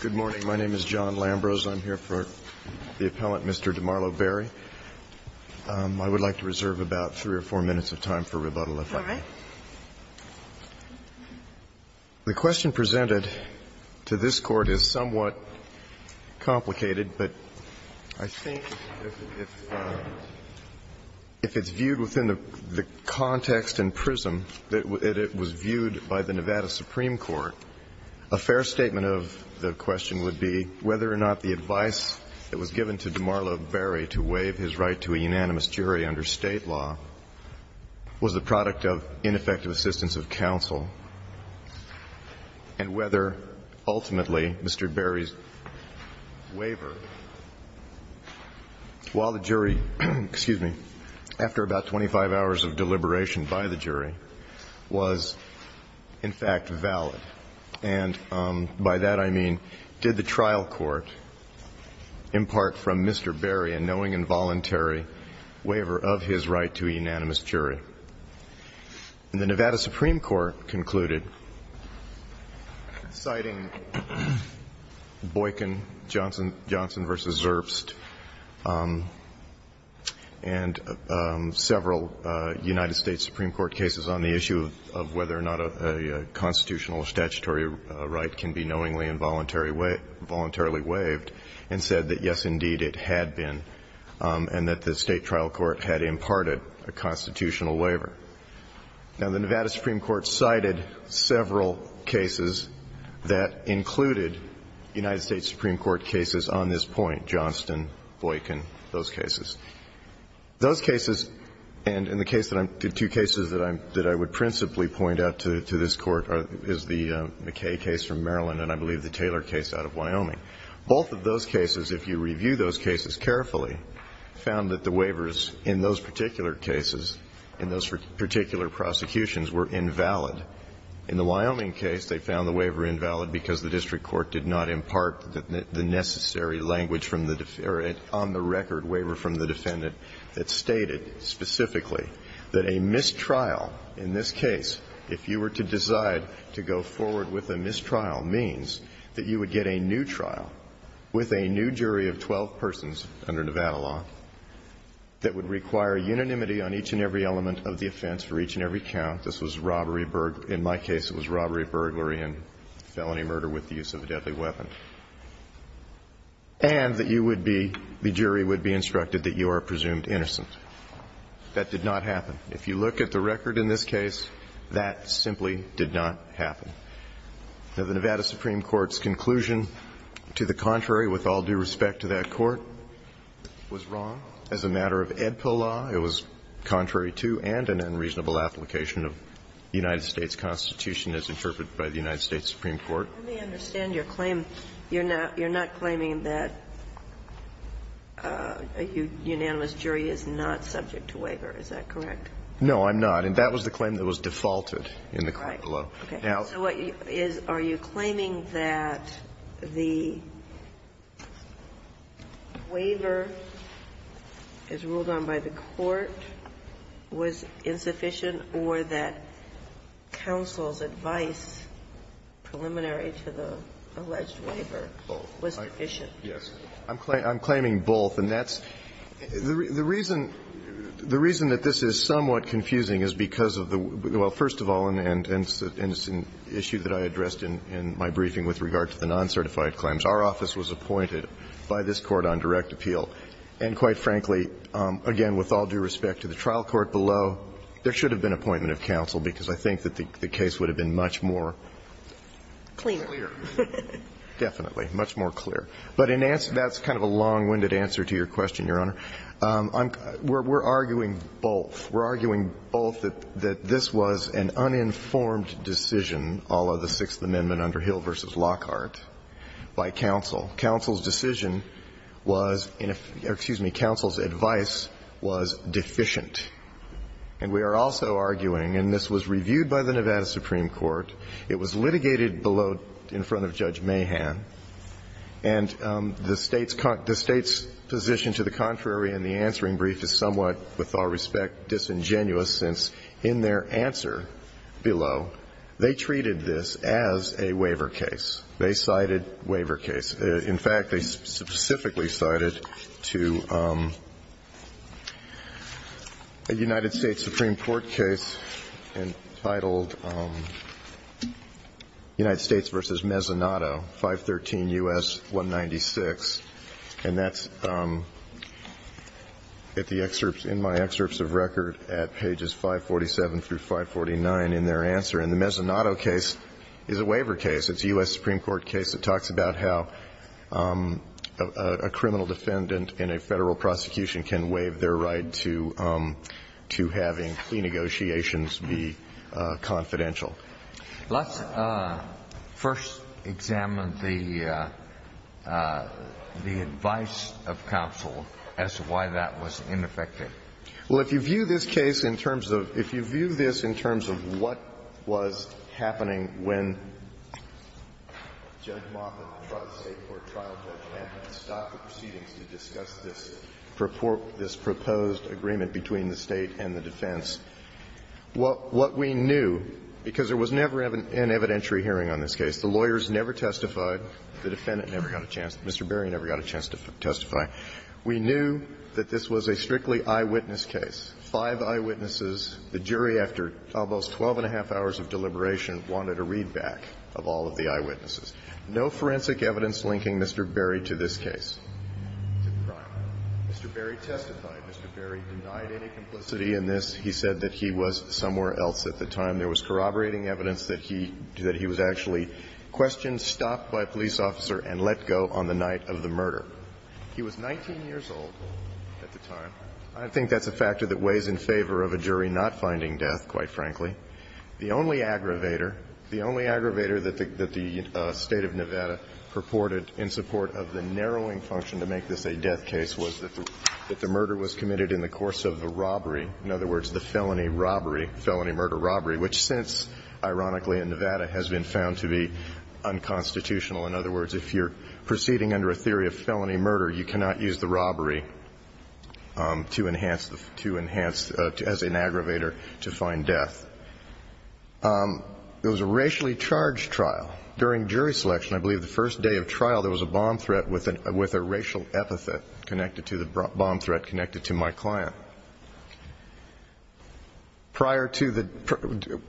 Good morning, my name is John Lambros. I'm here for the appellant, Mr. DeMarlo Berry. I would like to reserve about 3 or 4 minutes of time for rebuttal, if I may. All right. The question presented to this Court is somewhat complicated, but I think if it's viewed by the Nevada Supreme Court, a fair statement of the question would be whether or not the advice that was given to DeMarlo Berry to waive his right to a unanimous jury under State law was the product of ineffective assistance of counsel, and whether ultimately Mr. Berry's waiver, while the jury, excuse me, after about 25 hours of in fact valid. And by that I mean, did the trial court impart from Mr. Berry a knowing and voluntary waiver of his right to a unanimous jury? And the Nevada Supreme Court concluded, citing Boykin, Johnson v. Zerbst, and several United States Supreme Court cases on the issue of whether or not a constitutional or statutory right can be knowingly and voluntarily waived, and said that, yes, indeed it had been, and that the State trial court had imparted a constitutional waiver. Now, the Nevada Supreme Court cited several cases that included United States Supreme Court cases on this point, Johnson, Boykin, those cases. Those cases, and the two cases that I would principally point out to this Court is the McKay case from Maryland and I believe the Taylor case out of Wyoming. Both of those cases, if you review those cases carefully, found that the waivers in those particular cases, in those particular prosecutions, were invalid. In the Wyoming case, they found the waiver invalid because the district court did not impart the necessary language from the defendant, or an on-the-record waiver from the defendant, that stated specifically that a mistrial in this case, if you were to decide to go forward with a mistrial, means that you would get a new trial with a new jury of 12 persons under Nevada law that would require unanimity on each and every element of the offense for each and every count. This was robbery, in my case, it was robbery, burglary, and theft and felony murder with the use of a deadly weapon. And that you would be, the jury would be instructed that you are presumed innocent. That did not happen. If you look at the record in this case, that simply did not happen. Now, the Nevada Supreme Court's conclusion to the contrary, with all due respect to that Court, was wrong. As a matter of Edpil law, it was contrary to and an unreasonable application of the United States Constitution as interpreted by the United States Supreme Court. Ginsburg. Let me understand your claim. You're not claiming that a unanimous jury is not subject to waiver. Is that correct? Horwich. No, I'm not. And that was the claim that was defaulted in the court below. Ginsburg. Right. Okay. So what you are claiming that the waiver, as ruled on by the preliminary to the alleged waiver, was sufficient. Horwich. Yes. I'm claiming both, and that's the reason that this is somewhat confusing is because of the, well, first of all, and it's an issue that I addressed in my briefing with regard to the non-certified claims, our office was appointed by this Court on direct appeal, and quite frankly, again, with all due respect to the trial court below, there should have been appointment of counsel, because I think that the case would have been much more clear. Definitely, much more clear. But that's kind of a long-winded answer to your question, Your Honor. We're arguing both. We're arguing both that this was an uninformed decision, all of the Sixth Amendment under Hill v. Lockhart, by counsel. Counsel's decision was, excuse me, counsel's decision was sufficient. And we are also arguing, and this was reviewed by the Nevada Supreme Court, it was litigated below, in front of Judge Mahan, and the State's position to the contrary in the answering brief is somewhat, with all respect, disingenuous, since in their answer below, they treated this as a waiver case. They cited waiver case. In fact, they specifically cited to a United States Supreme Court case entitled United States v. Mezzanotto, 513 U.S. 196. And that's at the excerpts, in my excerpts of record at pages 547 through 549 in their answer. And the Mezzanotto case is a waiver case. It's a U.S. Supreme Court case that talks about how a criminal defendant in a Federal prosecution can waive their right to having plea negotiations be confidential. Let's first examine the advice of counsel as to why that was ineffective. Well, if you view this case in terms of what was happening when Judge Mahan tried the State court trial, Judge Mahan stopped the proceedings to discuss this proposed agreement between the State and the defense, what we knew, because there was never an evidentiary hearing on this case, the lawyers never testified, the defendant never got a chance, Mr. Berry never got a chance to testify. We knew that this was a strictly eyewitness case, five eyewitnesses. The jury, after almost 12 and a half hours of deliberation, wanted a readback of all of the eyewitnesses. No forensic evidence linking Mr. Berry to this case. Mr. Berry testified. Mr. Berry denied any complicity in this. He said that he was somewhere else at the time. There was corroborating evidence that he was actually questioned, stopped by a police officer, and let go on the night of the murder. He was 19 years old at the time. I think that's a factor that weighs in favor of a jury not finding death, quite frankly. The only aggravator, the only aggravator that the State of Nevada purported in support of the narrowing function to make this a death case was that the murder was committed in the course of the robbery, in other words, the felony robbery, felony murder robbery, which since, ironically, in Nevada has been found to be unconstitutional. In other words, if you're proceeding under a theory of felony murder, you cannot use the robbery to enhance the, to enhance, as an aggravator to find death. It was a racially charged trial. During jury selection, I believe the first day of trial, there was a bomb threat with a racial epithet connected to the bomb threat connected to my client. Prior to the,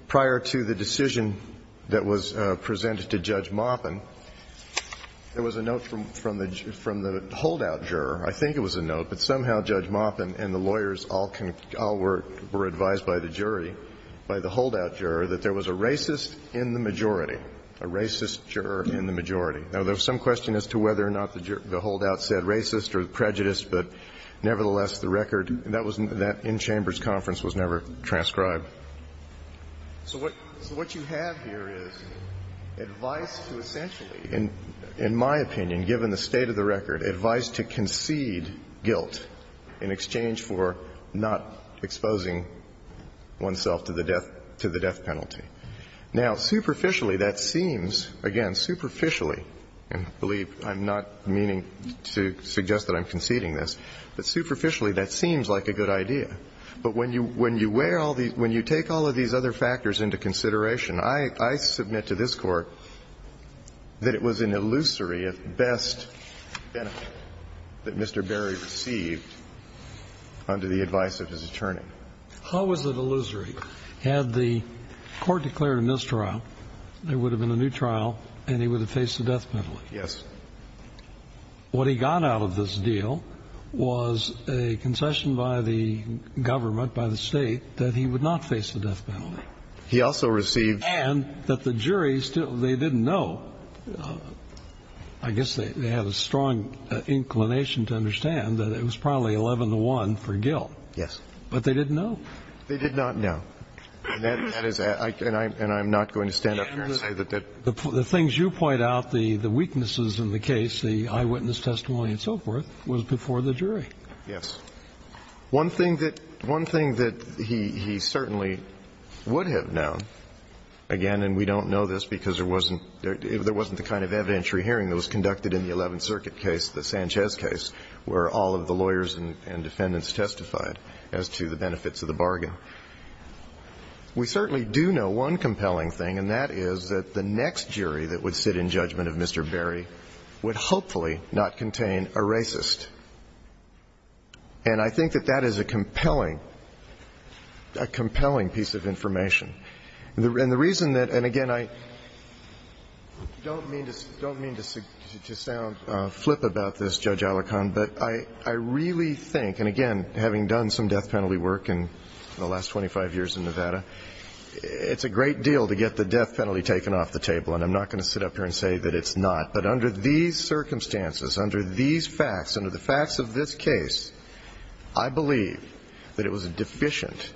prior to the decision that was presented to Judge Maupin, there was a note from the, from the holdout juror. I think it was a note, but somehow Judge Maupin and the lawyers all were, were advised by the jury, by the holdout juror, that there was a racist in the majority, a racist juror in the majority. Now, there was some question as to whether or not the holdout said racist or prejudiced, but nevertheless, the record, that was, that in-chambers conference was never transcribed. So what, so what you have here is advice to essentially, in, in my opinion, given the state of the record, advice to concede guilt in exchange for not exposing oneself to the death, to the death penalty. Now, superficially, that seems, again, superficially, and I believe I'm not meaning to suggest that I'm conceding this, but superficially, that seems like a good idea. But when you, when you weigh all the, when you take all of these other factors into consideration, I, I submit to this Court that it was an illusory, if best, benefit that Mr. Berry received under the advice of his attorney. How was it illusory? Had the Court declared a mistrial, there would have been a new trial, and he would have faced the death penalty. Yes. What he got out of this deal was a concession by the government, by the state, that he would not face the death penalty. He also received- And that the jury still, they didn't know, I guess they, they had a strong inclination to understand that it was probably 11 to 1 for guilt. Yes. But they didn't know. They did not know. And that, that is, I, and I, and I'm not going to stand up here and say that, that- I have no idea. I think the only time I've seen it was in the case, the eyewitness testimony and so forth, was before the jury. Yes. One thing that, one thing that he, he certainly would have known, again, and we don't know this because there wasn't, there wasn't the kind of evidentiary hearing that was conducted in the 11th Circuit case, the Sanchez case, where all of the lawyers and defendants testified as to the benefits of the bargain. We certainly do know one compelling thing, and that is that the next jury that would sit in judgment of Mr. Berry would hopefully not contain a racist. And I think that that is a compelling, a compelling piece of information. And the reason that, and again, I don't mean to, don't mean to sound flip about this, Judge Alicorn, but I, I really think, and again, having done some death penalty work in the last 25 years in Nevada, it's a great deal to get the death penalty taken off the table. And I'm not going to sit up here and say that it's not. But under these circumstances, under these facts, under the facts of this case, I believe that it was deficient.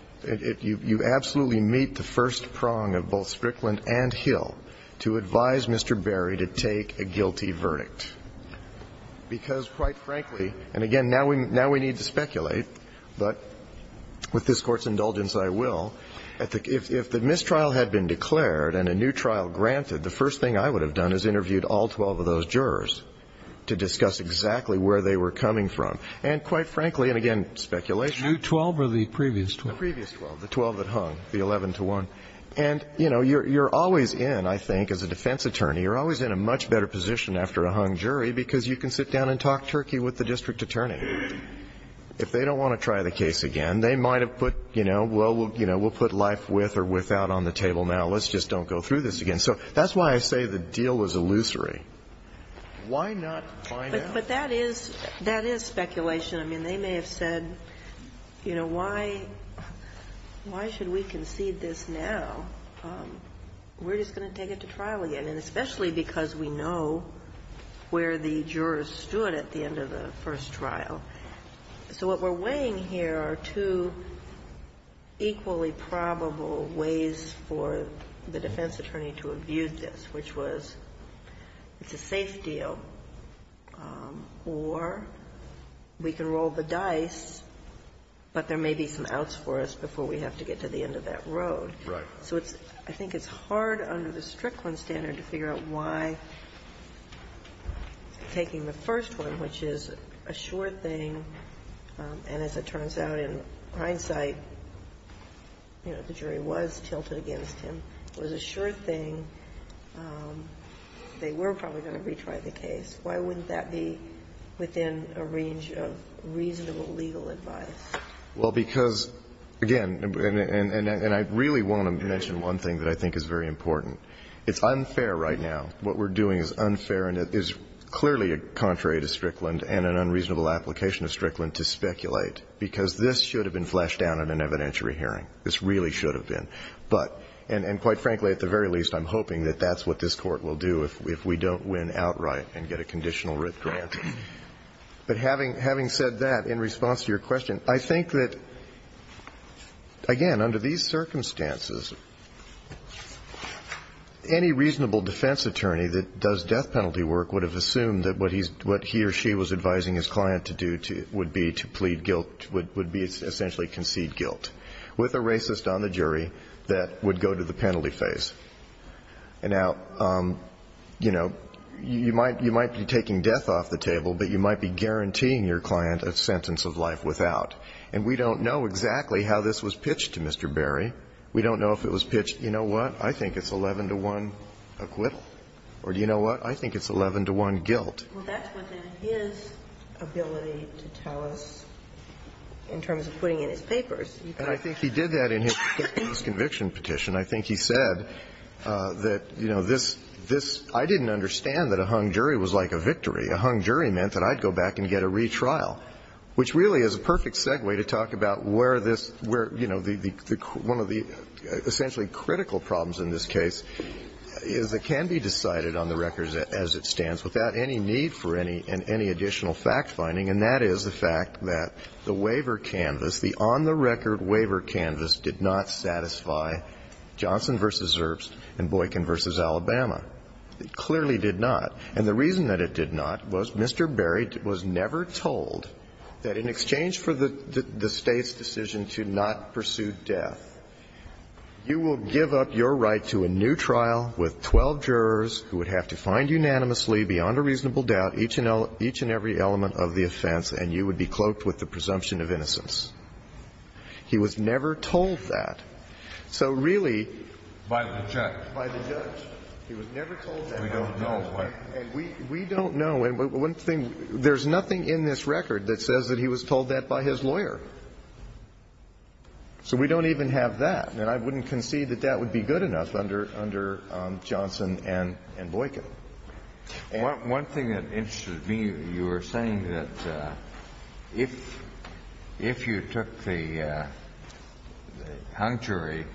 You absolutely meet the first prong of both Strickland and Hill to advise Mr. Berry to take a guilty verdict. Because, quite frankly, and again, now we need to speculate, but with this Court's indulgence, I will, if the mistrial had been declared and a new trial granted, the first thing I would have done is interviewed all 12 of those jurors to discuss exactly where they were coming from. And quite frankly, and again, speculation. The new 12 or the previous 12? The previous 12, the 12 that hung, the 11-to-1. And, you know, you're always in, I think, as a defense attorney, you're always in a much better position after a hung jury because you can sit down and talk turkey with the district attorney. If they don't want to try the case again, they might have put, you know, well, we'll put life with or without on the table now. Let's just don't go through this again. So that's why I say the deal was illusory. Why not find out? But that is speculation. I mean, they may have said, you know, why should we concede this now? We're just going to take it to trial again. And especially because we know where the jurors stood at the end of the first trial. So what we're weighing here are two equally probable ways for the defense attorney to have viewed this, which was it's a safe deal, or we can roll the dice, but there may be some outs for us before we have to get to the end of that road. Right. So it's – I think it's hard under the Strickland standard to figure out why taking the first one, which is a sure thing, and as it turns out, in hindsight, you know, the jury was tilted against him, was a sure thing, they were probably going to retry the case. Why wouldn't that be within a range of reasonable legal advice? Well, because, again, and I really want to mention one thing that I think is very important. It's unfair right now. What we're doing is unfair, and it is clearly contrary to Strickland and an unreasonable application of Strickland to speculate, because this should have been flashed down at an evidentiary hearing. This really should have been. But – and quite frankly, at the very least, I'm hoping that that's what this Court will do if we don't win outright and get a conditional writ grant. But having said that, in response to your question, I think that, again, under these circumstances, any reasonable defense attorney that does death penalty work would have assumed that what he or she was advising his client to do would be to plead guilt, would be essentially concede guilt, with a racist on the jury that would go to the penalty phase. And now, you know, you might be taking death off the table, but you might be guaranteeing your client a sentence of life without. And we don't know exactly how this was pitched to Mr. Berry. We don't know if it was pitched, you know what, I think it's 11 to 1 acquittal, or do you know what, I think it's 11 to 1 guilt. Well, that's within his ability to tell us in terms of putting in his papers. And I think he did that in his conviction petition. I think he said that, you know, this, this, I didn't understand that a hung jury was like a victory. A hung jury meant that I'd go back and get a retrial, which really is a perfect segue to talk about where this, where, you know, the, the, one of the essentially critical problems in this case is it can be decided on the record as it stands without any need for any additional fact-finding, and that is the fact that the waiver canvas did not satisfy Johnson v. Zerbst and Boykin v. Alabama. It clearly did not. And the reason that it did not was Mr. Berry was never told that in exchange for the State's decision to not pursue death, you will give up your right to a new trial with 12 jurors who would have to find unanimously beyond a reasonable doubt each and every element of the offense, and you would be cloaked with the presumption of innocence. He was never told that. So really, by the judge, by the judge, he was never told that. We don't know. And we, we don't know, and one thing, there's nothing in this record that says that he was told that by his lawyer. So we don't even have that, and I wouldn't concede that that would be good enough under, under Johnson and, and Boykin. One, one thing that interested me, you were saying that if, if you took the hung jury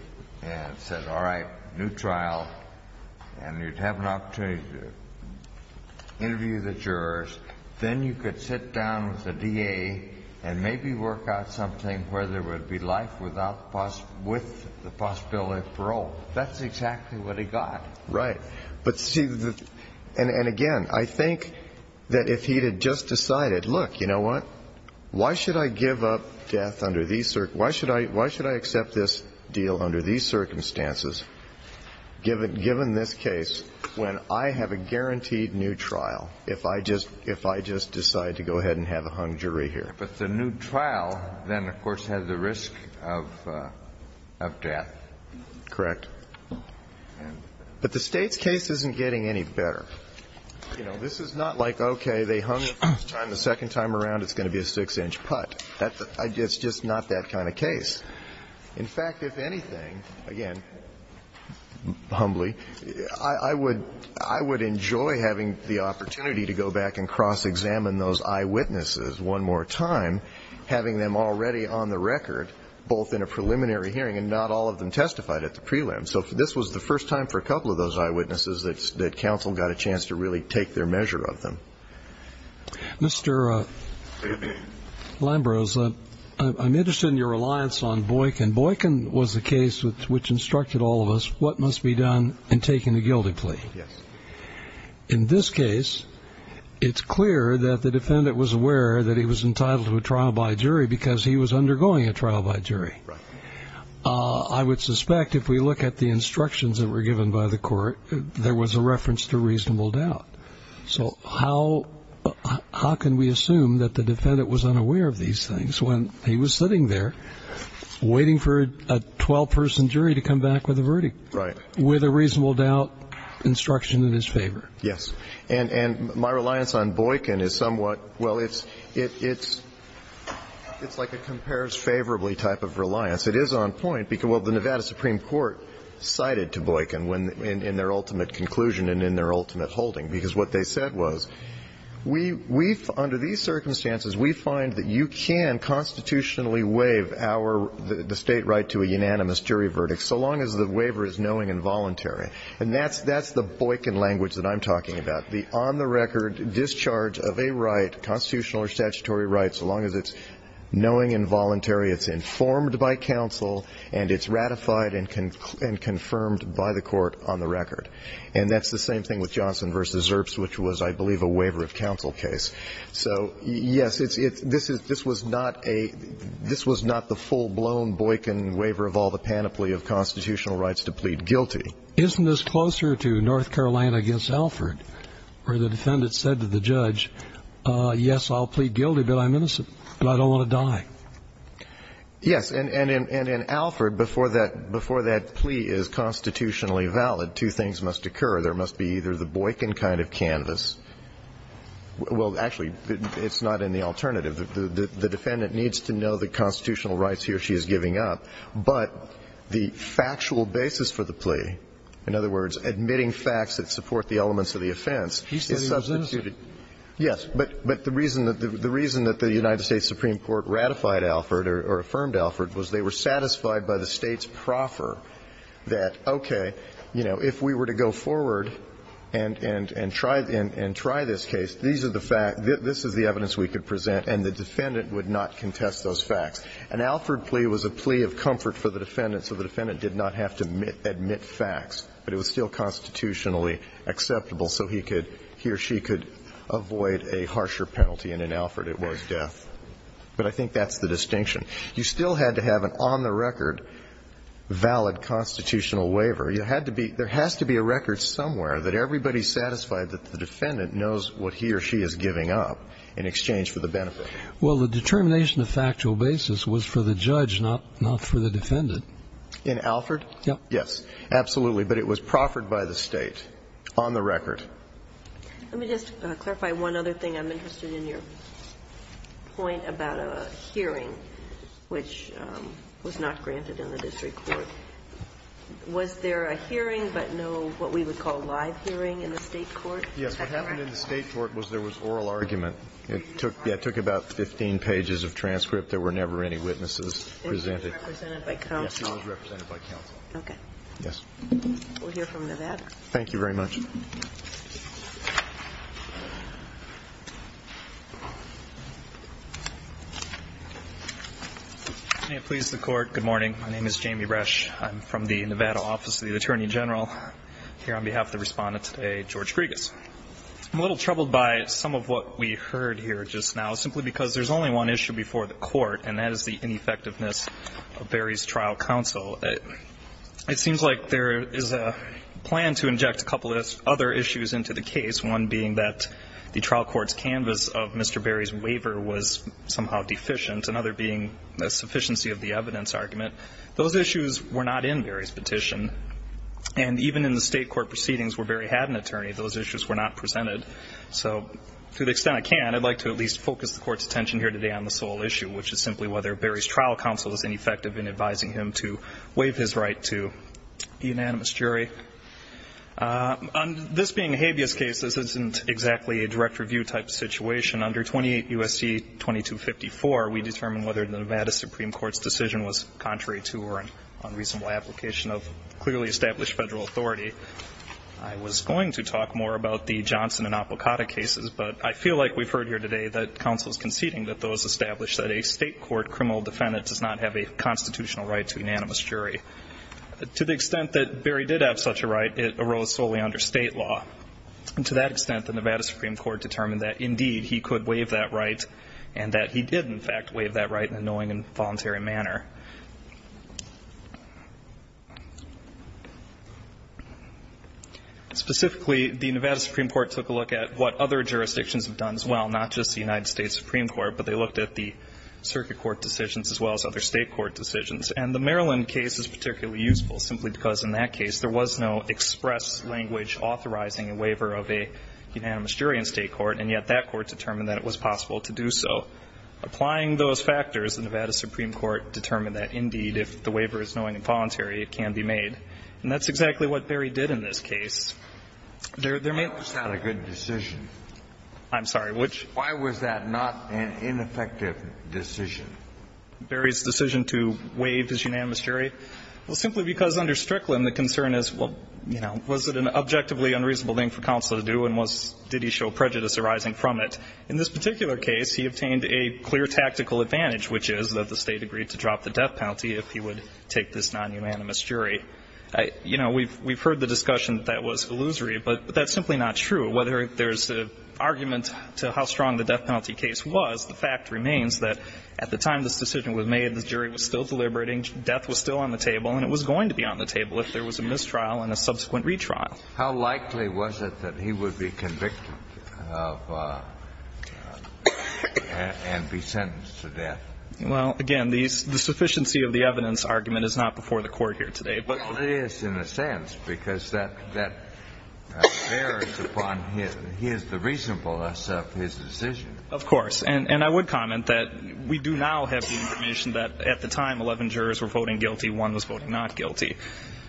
and said, all right, new trial, and you'd have an opportunity to interview the jurors, then you could sit down with the DA and maybe work out something where there would be life without, with the possibility of parole. That's exactly what he got. Right. But see, and, and again, I think that if he had just decided, look, you know what? Why should I give up death under these, why should I, why should I accept this deal under these circumstances, given, given this case, when I have a guaranteed new trial, if I just, if I just decide to go ahead and have a hung jury here? But the new trial then, of course, has the risk of, of death. Correct. But the State's case isn't getting any better. You know, this is not like, okay, they hung it the first time, the second time around, it's going to be a six-inch putt. That's, it's just not that kind of case. In fact, if anything, again, humbly, I, I would, I would enjoy having the opportunity to go back and cross-examine those eyewitnesses one more time, having them already on the record, both in a preliminary hearing and not all of them testified at the prelim. So this was the first time for a couple of those eyewitnesses that, that counsel got a chance to really take their measure of them. Mr. Lambrose, I'm interested in your reliance on Boykin. Boykin was the case which, which instructed all of us what must be done in taking a guilty plea. Yes. In this case, it's clear that the defendant was aware that he was entitled to a trial by jury because he was undergoing a trial by jury. Right. I would suspect if we look at the instructions that were given by the court, there was a reference to reasonable doubt. So how, how can we assume that the defendant was unaware of these things when he was sitting there waiting for a 12-person jury to come back with a verdict? Right. With a reasonable doubt instruction in his favor. Yes. And, and my reliance on Boykin is somewhat, well, it's, it's, it's like a compares favorably type of reliance. It is on point because, well, the Nevada Supreme Court cited to Boykin when, in, in their ultimate conclusion and in their ultimate holding because what they said was, we, we, under these circumstances, we find that you can constitutionally waive our, the State right to a unanimous jury verdict so long as the waiver is knowing and voluntary. And that's, that's the Boykin language that I'm talking about. The on-the-record discharge of a right, constitutional or statutory rights, so long as it's knowing and voluntary, it's informed by counsel, and it's ratified and, and confirmed by the court on the record. And that's the same thing with Johnson v. Erps, which was, I believe, a waiver of counsel case. So, yes, it's, it's, this is, this was not a, this was not the full-blown Boykin waiver of all the panoply of constitutional rights to plead guilty. Isn't this closer to North Carolina against Alford, where the defendant said to the judge, yes, I'll plead guilty, but I'm innocent, but I don't want to die? Yes, and, and, and, and in Alford, before that, before that plea is constitutionally valid, two things must occur. There must be either the Boykin kind of canvas, well, actually, it's not in the alternative. The defendant needs to know the constitutional rights he or she is giving up. But the factual basis for the plea, in other words, admitting facts that support the elements of the offense, is substituted. Yes, but, but the reason that the, the reason that the United States Supreme Court ratified Alford or, or affirmed Alford was they were satisfied by the State's proffer that, okay, you know, if we were to go forward and, and, and try, and, and try this case, these are the fact, this is the evidence we could present. And the defendant would not contest those facts. An Alford plea was a plea of comfort for the defendant, so the defendant did not have to admit, admit facts. But it was still constitutionally acceptable, so he could, he or she could avoid a harsher penalty. And in Alford, it was death. But I think that's the distinction. You still had to have an on-the-record valid constitutional waiver. You had to be, there has to be a record somewhere that everybody's satisfied that the defendant knows what he or she is giving up in exchange for the benefit. Well, the determination of factual basis was for the judge, not, not for the defendant. In Alford? Yes. Absolutely. But it was proffered by the State on the record. Let me just clarify one other thing. I'm interested in your point about a hearing which was not granted in the district court. Was there a hearing, but no, what we would call live hearing in the state court? Yes. What happened in the state court was there was oral argument. It took, yeah, it took about 15 pages of transcript. There were never any witnesses presented. And she was represented by counsel? Yes, she was represented by counsel. Okay. Yes. We'll hear from Nevada. Thank you very much. May it please the Court. Good morning. My name is Jamie Resch. I'm from the Nevada Office of the Attorney General. Here on behalf of the respondent today, George Grigas. I'm a little troubled by some of what we heard here just now, simply because there's only one issue before the court, and that is the ineffectiveness of Barry's trial counsel. It seems like there is a plan to inject a couple of other issues into the case, one being that the trial court's canvas of Mr. Barry's waiver was somehow deficient, another being a sufficiency of the evidence argument. Those issues were not in Barry's petition. And even in the state court proceedings where Barry had an attorney, those issues were not presented. So to the extent I can, I'd like to at least focus the court's attention here today on the sole issue, which is simply whether Barry's trial counsel is ineffective in advising him to waive his right to the unanimous jury. On this being a habeas case, this isn't exactly a direct review type situation. Under 28 U.S.C. 2254, we determined whether the Nevada Supreme Court's decision was contrary to or an unreasonable application of clearly established federal authority. I was going to talk more about the Johnson and Apicotta cases, but I feel like we've heard here today that counsel is conceding that those established that a state court criminal defendant does not have a constitutional right to unanimous jury. To the extent that Barry did have such a right, it arose solely under state law. And to that extent, the Nevada Supreme Court determined that, indeed, he could waive that right and that he did, in fact, waive that right in a knowing and voluntary manner. Specifically, the Nevada Supreme Court took a look at what other jurisdictions have done as well, not just the United States Supreme Court, but they looked at the circuit court decisions as well as other state court decisions. And the Maryland case is particularly useful simply because in that case there was no express language authorizing a waiver of a unanimous jury in state court, and yet that court determined that it was possible to do so. Applying those factors, the Nevada Supreme Court determined that, indeed, if the waiver is knowing and voluntary, it can be made. And that's exactly what Barry did in this case. There may not be a good decision. I'm sorry, which? Why was that not an ineffective decision? Barry's decision to waive his unanimous jury? Well, simply because under Strickland, the concern is, well, you know, was it an objectively unreasonable thing for counsel to do and did he show prejudice arising from it? In this particular case, he obtained a clear tactical advantage, which is that the State agreed to drop the death penalty if he would take this non-unanimous jury. You know, we've heard the discussion that that was illusory, but that's simply not true. Whether there's an argument to how strong the death penalty case was, the fact remains that at the time this decision was made, the jury was still deliberating. Death was still on the table, and it was going to be on the table if there was a mistrial and a subsequent retrial. How likely was it that he would be convicted of and be sentenced to death? Well, again, the sufficiency of the evidence argument is not before the Court here today. But it is in a sense, because that bears upon his the reasonableness of his decision. Of course. And I would comment that we do now have the information that at the time 11 jurors were voting guilty, one was voting not guilty.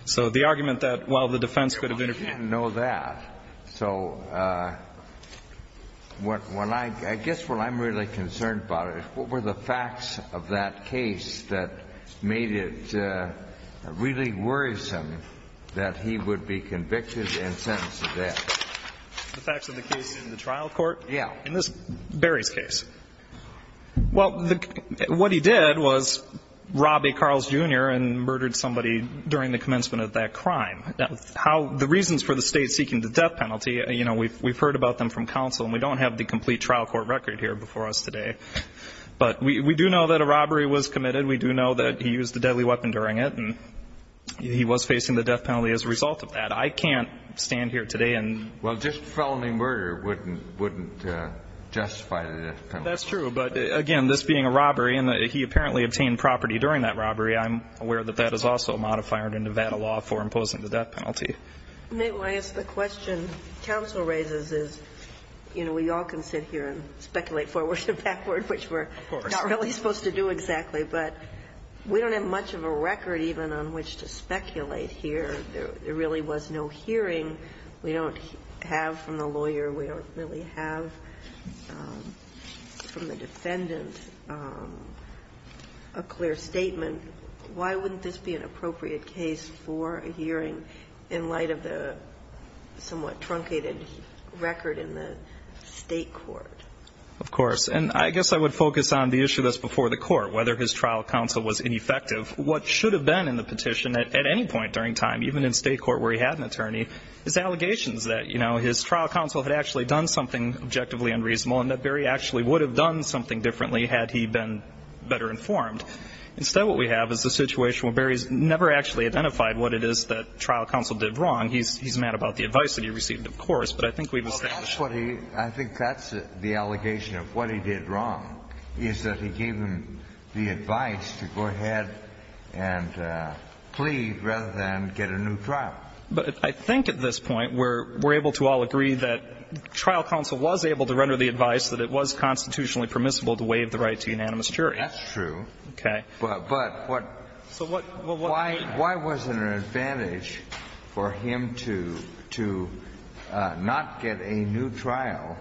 So the argument that, well, the defense could have interfered. I didn't know that. So what I guess what I'm really concerned about is what were the facts of that case that made it really worrisome that he would be convicted and sentenced to death? The facts of the case in the trial court? Yeah. In this Berry's case. Well, what he did was rob a Carl's Jr. and murdered somebody during the commencement of that crime. The reasons for the State seeking the death penalty, you know, we've heard about them from counsel. And we don't have the complete trial court record here before us today. But we do know that a robbery was committed. We do know that he used a deadly weapon during it. And he was facing the death penalty as a result of that. I can't stand here today and — Well, just felony murder wouldn't justify the death penalty. That's true. But, again, this being a robbery, and he apparently obtained property during that robbery. I'm aware that that is also a modifier in Nevada law for imposing the death penalty. Nate, when I ask the question counsel raises is, you know, we all can sit here and speculate forward and backward, which we're not really supposed to do exactly. But we don't have much of a record even on which to speculate here. There really was no hearing. We don't have from the lawyer. We don't really have from the defendant a clear statement. Why wouldn't this be an appropriate case for a hearing in light of the somewhat truncated record in the State court? Of course. And I guess I would focus on the issue that's before the court, whether his trial counsel was ineffective. What should have been in the petition at any point during time, even in State court where he had an attorney, is allegations that, you know, his trial counsel had actually done something objectively unreasonable and that Barry actually would have done something differently had he been better informed. Instead, what we have is a situation where Barry's never actually identified what it is that trial counsel did wrong. He's mad about the advice that he received, of course, but I think we've established. Well, that's what he – I think that's the allegation of what he did wrong, is that he gave him the advice to go ahead and plead rather than get a new trial. But I think at this point we're able to all agree that trial counsel was able to render the advice that it was constitutionally permissible to waive the right to unanimous jury. That's true. Okay. But why wasn't it an advantage for him to not get a new trial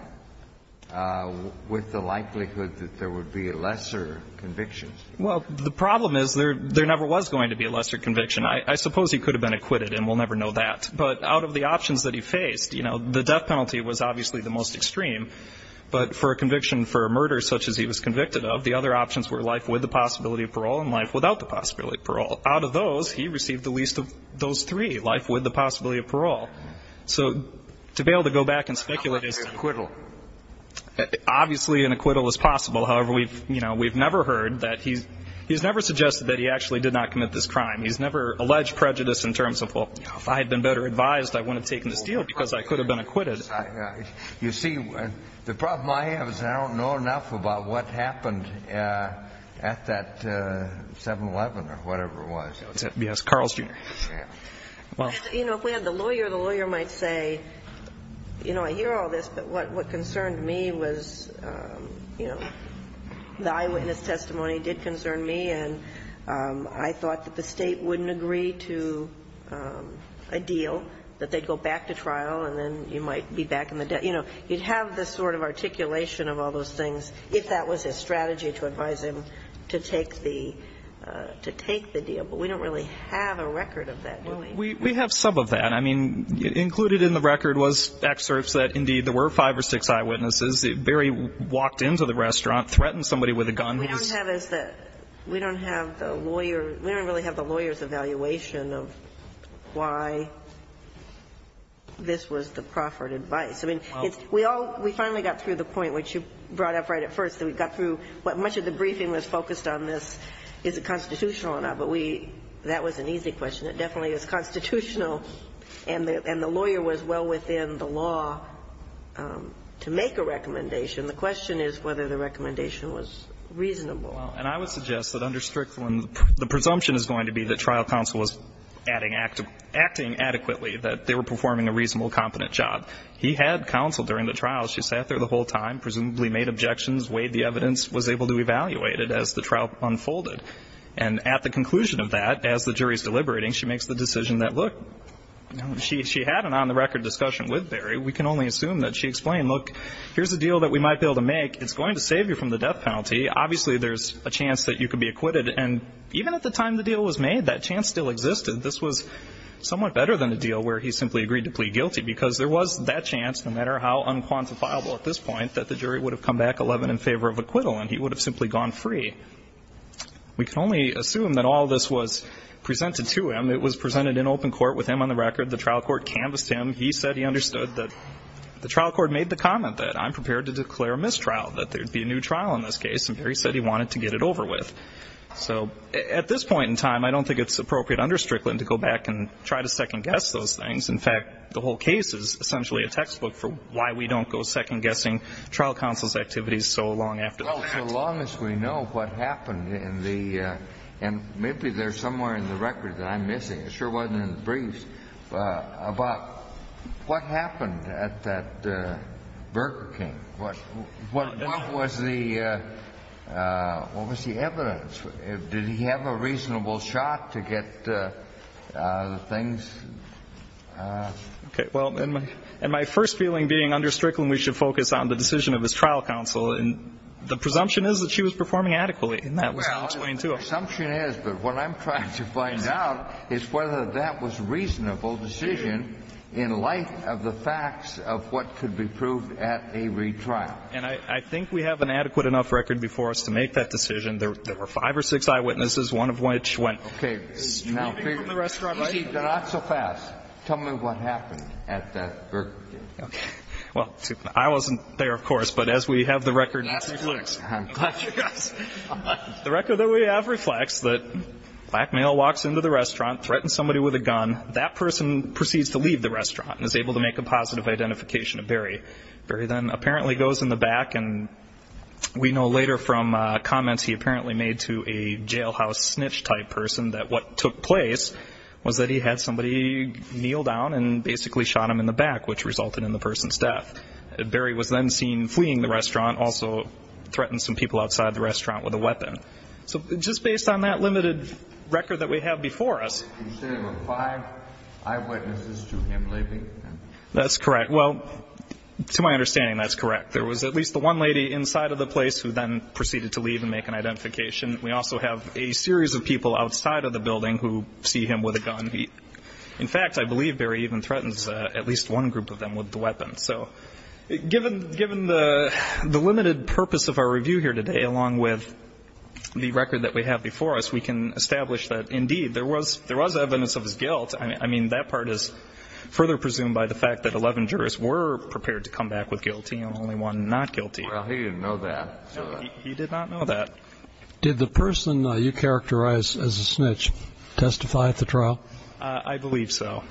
with the likelihood that there would be a lesser conviction? Well, the problem is there never was going to be a lesser conviction. I suppose he could have been acquitted, and we'll never know that. But out of the options that he faced, you know, the death penalty was obviously the most extreme. But for a conviction for a murder such as he was convicted of, the other options were life with the possibility of parole and life without the possibility of parole. Out of those, he received the least of those three, life with the possibility of parole. So to be able to go back and speculate is – How about an acquittal? Obviously an acquittal is possible. However, we've, you know, we've never heard that he's – he's never suggested that he actually did not commit this crime. He's never alleged prejudice in terms of, well, you know, if I had been better advised, I wouldn't have taken this deal because I could have been acquitted. You see, the problem I have is I don't know enough about what happened at that 7-11 or whatever it was. Yes, Carl's jury. Yeah. Well, you know, if we had the lawyer, the lawyer might say, you know, I hear all this, but what concerned me was, you know, the eyewitness testimony did concern me. And I thought that the State wouldn't agree to a deal, that they'd go back to trial and then you might be back in the debt. You know, you'd have this sort of articulation of all those things if that was his strategy to advise him to take the – to take the deal. But we don't really have a record of that, do we? We have some of that. I mean, included in the record was excerpts that, indeed, there were five or six eyewitnesses. Barry walked into the restaurant, threatened somebody with a gun. We don't have as the – we don't have the lawyer – we don't really have the lawyer's evaluation of why this was the proffered advice. I mean, it's – we all – we finally got through the point, which you brought up right at first, that we got through what much of the briefing was focused on this is it constitutional or not. But we – that was an easy question. It definitely is constitutional. And the lawyer was well within the law to make a recommendation. The question is whether the recommendation was reasonable. Well, and I would suggest that under Strickland, the presumption is going to be that trial counsel was adding – acting adequately, that they were performing a reasonable, competent job. He had counsel during the trial. She sat there the whole time, presumably made objections, weighed the evidence, was able to evaluate it as the trial unfolded. And at the conclusion of that, as the jury is deliberating, she makes the decision that, look, she had an on-the-record discussion with Barry. We can only assume that she explained, look, here's a deal that we might be able to make. It's going to save you from the death penalty. Obviously, there's a chance that you could be acquitted. And even at the time the deal was made, that chance still existed. This was somewhat better than a deal where he simply agreed to plead guilty, because there was that chance, no matter how unquantifiable at this point, that the jury would have come back 11 in favor of acquittal, and he would have simply gone free. We can only assume that all this was presented to him. It was presented in open court with him on the record. The trial court canvassed him. He said he understood that the trial court made the comment that I'm prepared to declare a mistrial, that there would be a new trial in this case, and Barry said he wanted to get it over with. So at this point in time, I don't think it's appropriate under Strickland to go back and try to second-guess those things. In fact, the whole case is essentially a textbook for why we don't go second-guessing trial counsel's activities so long after that. Well, so long as we know what happened in the – and maybe there's somewhere in the record that I'm missing. It sure wasn't in the briefs. But what happened at that Burger King? What was the – what was the evidence? Did he have a reasonable shot to get the things? Okay. Well, and my first feeling being under Strickland, we should focus on the decision of his trial counsel. And the presumption is that she was performing adequately. And that was explained, too. Well, my assumption is, but what I'm trying to find out is whether that was a reasonable decision in light of the facts of what could be proved at a retrial. And I think we have an adequate enough record before us to make that decision. There were five or six eyewitnesses, one of which went straight from the restaurant right in front of me. Okay. Now, you see, you're not so fast. Tell me what happened at that Burger King. Okay. Well, I wasn't there, of course, but as we have the record in preflux. I'm glad you guys are. The record that we have reflects that a black male walks into the restaurant, threatens somebody with a gun. That person proceeds to leave the restaurant and is able to make a positive identification of Barry. Barry then apparently goes in the back. And we know later from comments he apparently made to a jailhouse snitch type person that what took place was that he had somebody kneel down and basically shot him in the back, which resulted in the person's death. Barry was then seen fleeing the restaurant, also threatened some people outside the restaurant with a weapon. So just based on that limited record that we have before us. You said there were five eyewitnesses to him leaving? That's correct. Well, to my understanding, that's correct. There was at least the one lady inside of the place who then proceeded to leave and make an identification. We also have a series of people outside of the building who see him with a gun. In fact, I believe Barry even threatens at least one group of them with the weapon. So given the limited purpose of our review here today, along with the record that we have before us, we can establish that, indeed, there was evidence of his guilt. I mean, that part is further presumed by the fact that 11 jurists were prepared to come back with guilty and only one not guilty. Well, he didn't know that. He did not know that. Did the person you characterized as a snitch testify at the trial? I believe so.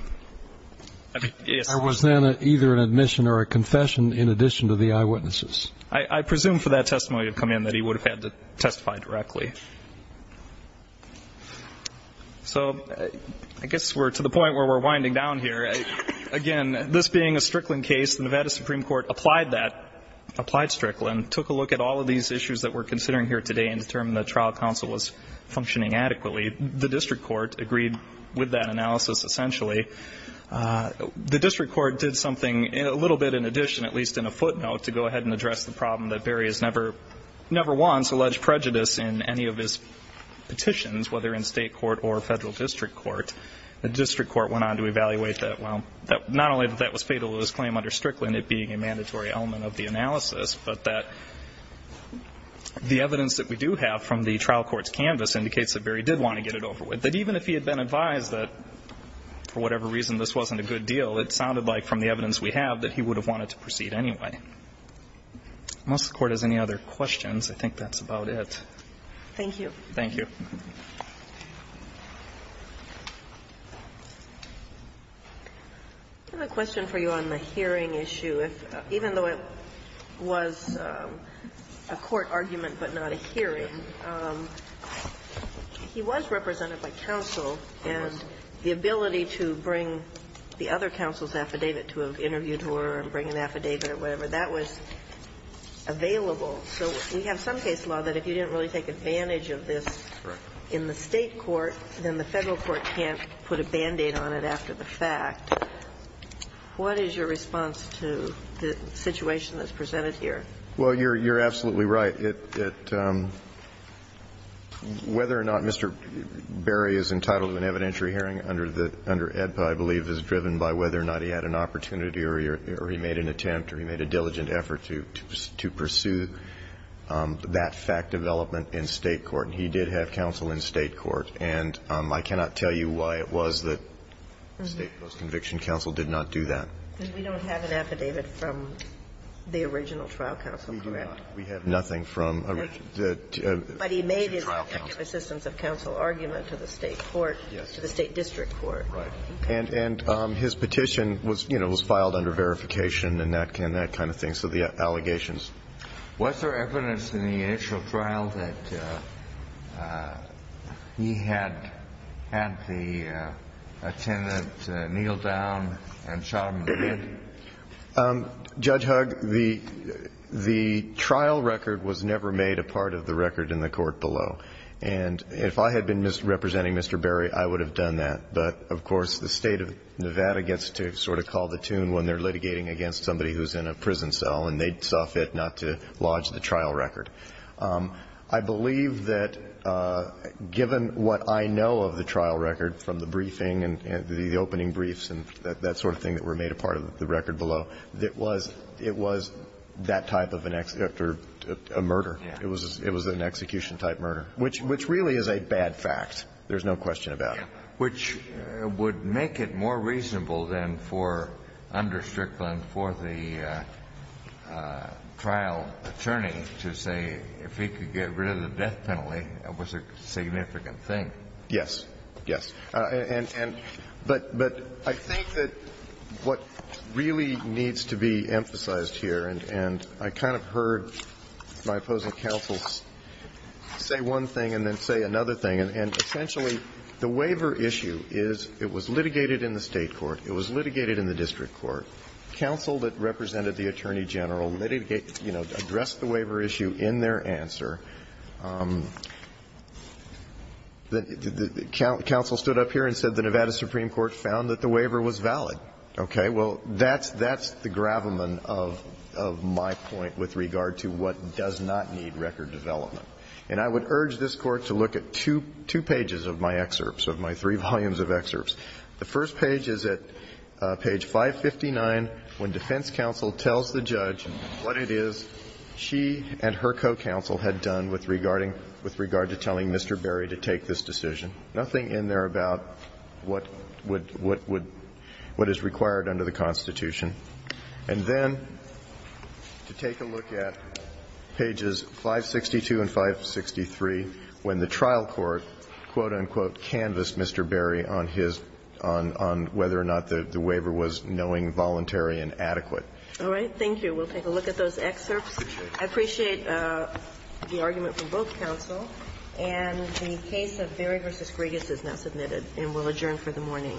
There was then either an admission or a confession in addition to the eyewitnesses. I presume for that testimony to come in that he would have had to testify directly. So I guess we're to the point where we're winding down here. Again, this being a Strickland case, the Nevada Supreme Court applied that, applied Strickland, took a look at all of these issues that we're considering here today and determined that trial counsel was functioning adequately. The district court agreed with that analysis, essentially. The district court did something a little bit in addition, at least in a footnote, to go ahead and address the problem that Berry has never once alleged prejudice in any of his petitions, whether in state court or federal district court. The district court went on to evaluate that, well, not only that that was fatal to his claim under Strickland, it being a mandatory element of the analysis, but that the evidence that we do have from the trial court's canvas indicates that Berry did want to get it over with, that even if he had been advised that for whatever reason this wasn't a good deal, it sounded like from the evidence we have that he would have wanted to proceed anyway. Unless the Court has any other questions, I think that's about it. Thank you. Thank you. I have a question for you on the hearing issue. Even though it was a court argument but not a hearing, he was represented by counsel and the ability to bring the other counsel's affidavit to an interview tour and bring an affidavit or whatever, that was available. So we have some case law that if you didn't really take advantage of this in the state court, then the federal court can't put a Band-Aid on it after the fact. What is your response to the situation that's presented here? Well, you're absolutely right. Whether or not Mr. Berry is entitled to an evidentiary hearing under EDPA, I believe, is driven by whether or not he had an opportunity or he made an attempt or he made a diligent effort to pursue that fact development in state court. And he did have counsel in state court. And I cannot tell you why it was that state post-conviction counsel did not do that. We don't have an affidavit from the original trial counsel, correct? We do not. We have nothing from the original trial counsel. But he made his assistance of counsel argument to the state court, to the state district court. Right. And his petition was, you know, was filed under verification and that kind of thing. So the allegations. Was there evidence in the initial trial that he had had the attendant kneel down and shot him in the head? Judge Hugg, the trial record was never made a part of the record in the court below. And if I had been representing Mr. Berry, I would have done that. But, of course, the State of Nevada gets to sort of call the tune when they're litigating against somebody who's in a prison cell and they saw fit not to lodge the trial record. I believe that given what I know of the trial record from the briefing and the opening briefs and that sort of thing that were made a part of the record below, it was that type of a murder. Yeah. It was an execution-type murder, which really is a bad fact. There's no question about it. Yeah. Which would make it more reasonable then for under Strickland for the trial attorney to say if he could get rid of the death penalty, it was a significant thing. Yes. Yes. But I think that what really needs to be emphasized here, and I kind of heard my opposing counsel say one thing and then say another thing, and essentially the waiver issue is it was litigated in the State court. It was litigated in the district court. Counsel that represented the attorney general litigated, you know, addressed the waiver issue in their answer. Counsel stood up here and said the Nevada Supreme Court found that the waiver was valid. Okay. Well, that's the gravamen of my point with regard to what does not need record development. And I would urge this Court to look at two pages of my excerpts, of my three volumes of excerpts. The first page is at page 559, when defense counsel tells the judge what it is she and her co-counsel had done with regard to telling Mr. Berry to take this decision. Nothing in there about what is required under the Constitution. And then to take a look at pages 562 and 563, when the trial court, quote, unquote, canvassed Mr. Berry on whether or not the waiver was knowing, voluntary, and adequate. All right. Thank you. We'll take a look at those excerpts. I appreciate the argument from both counsel. And the case of Berry v. Griegas is now submitted and will adjourn for the morning.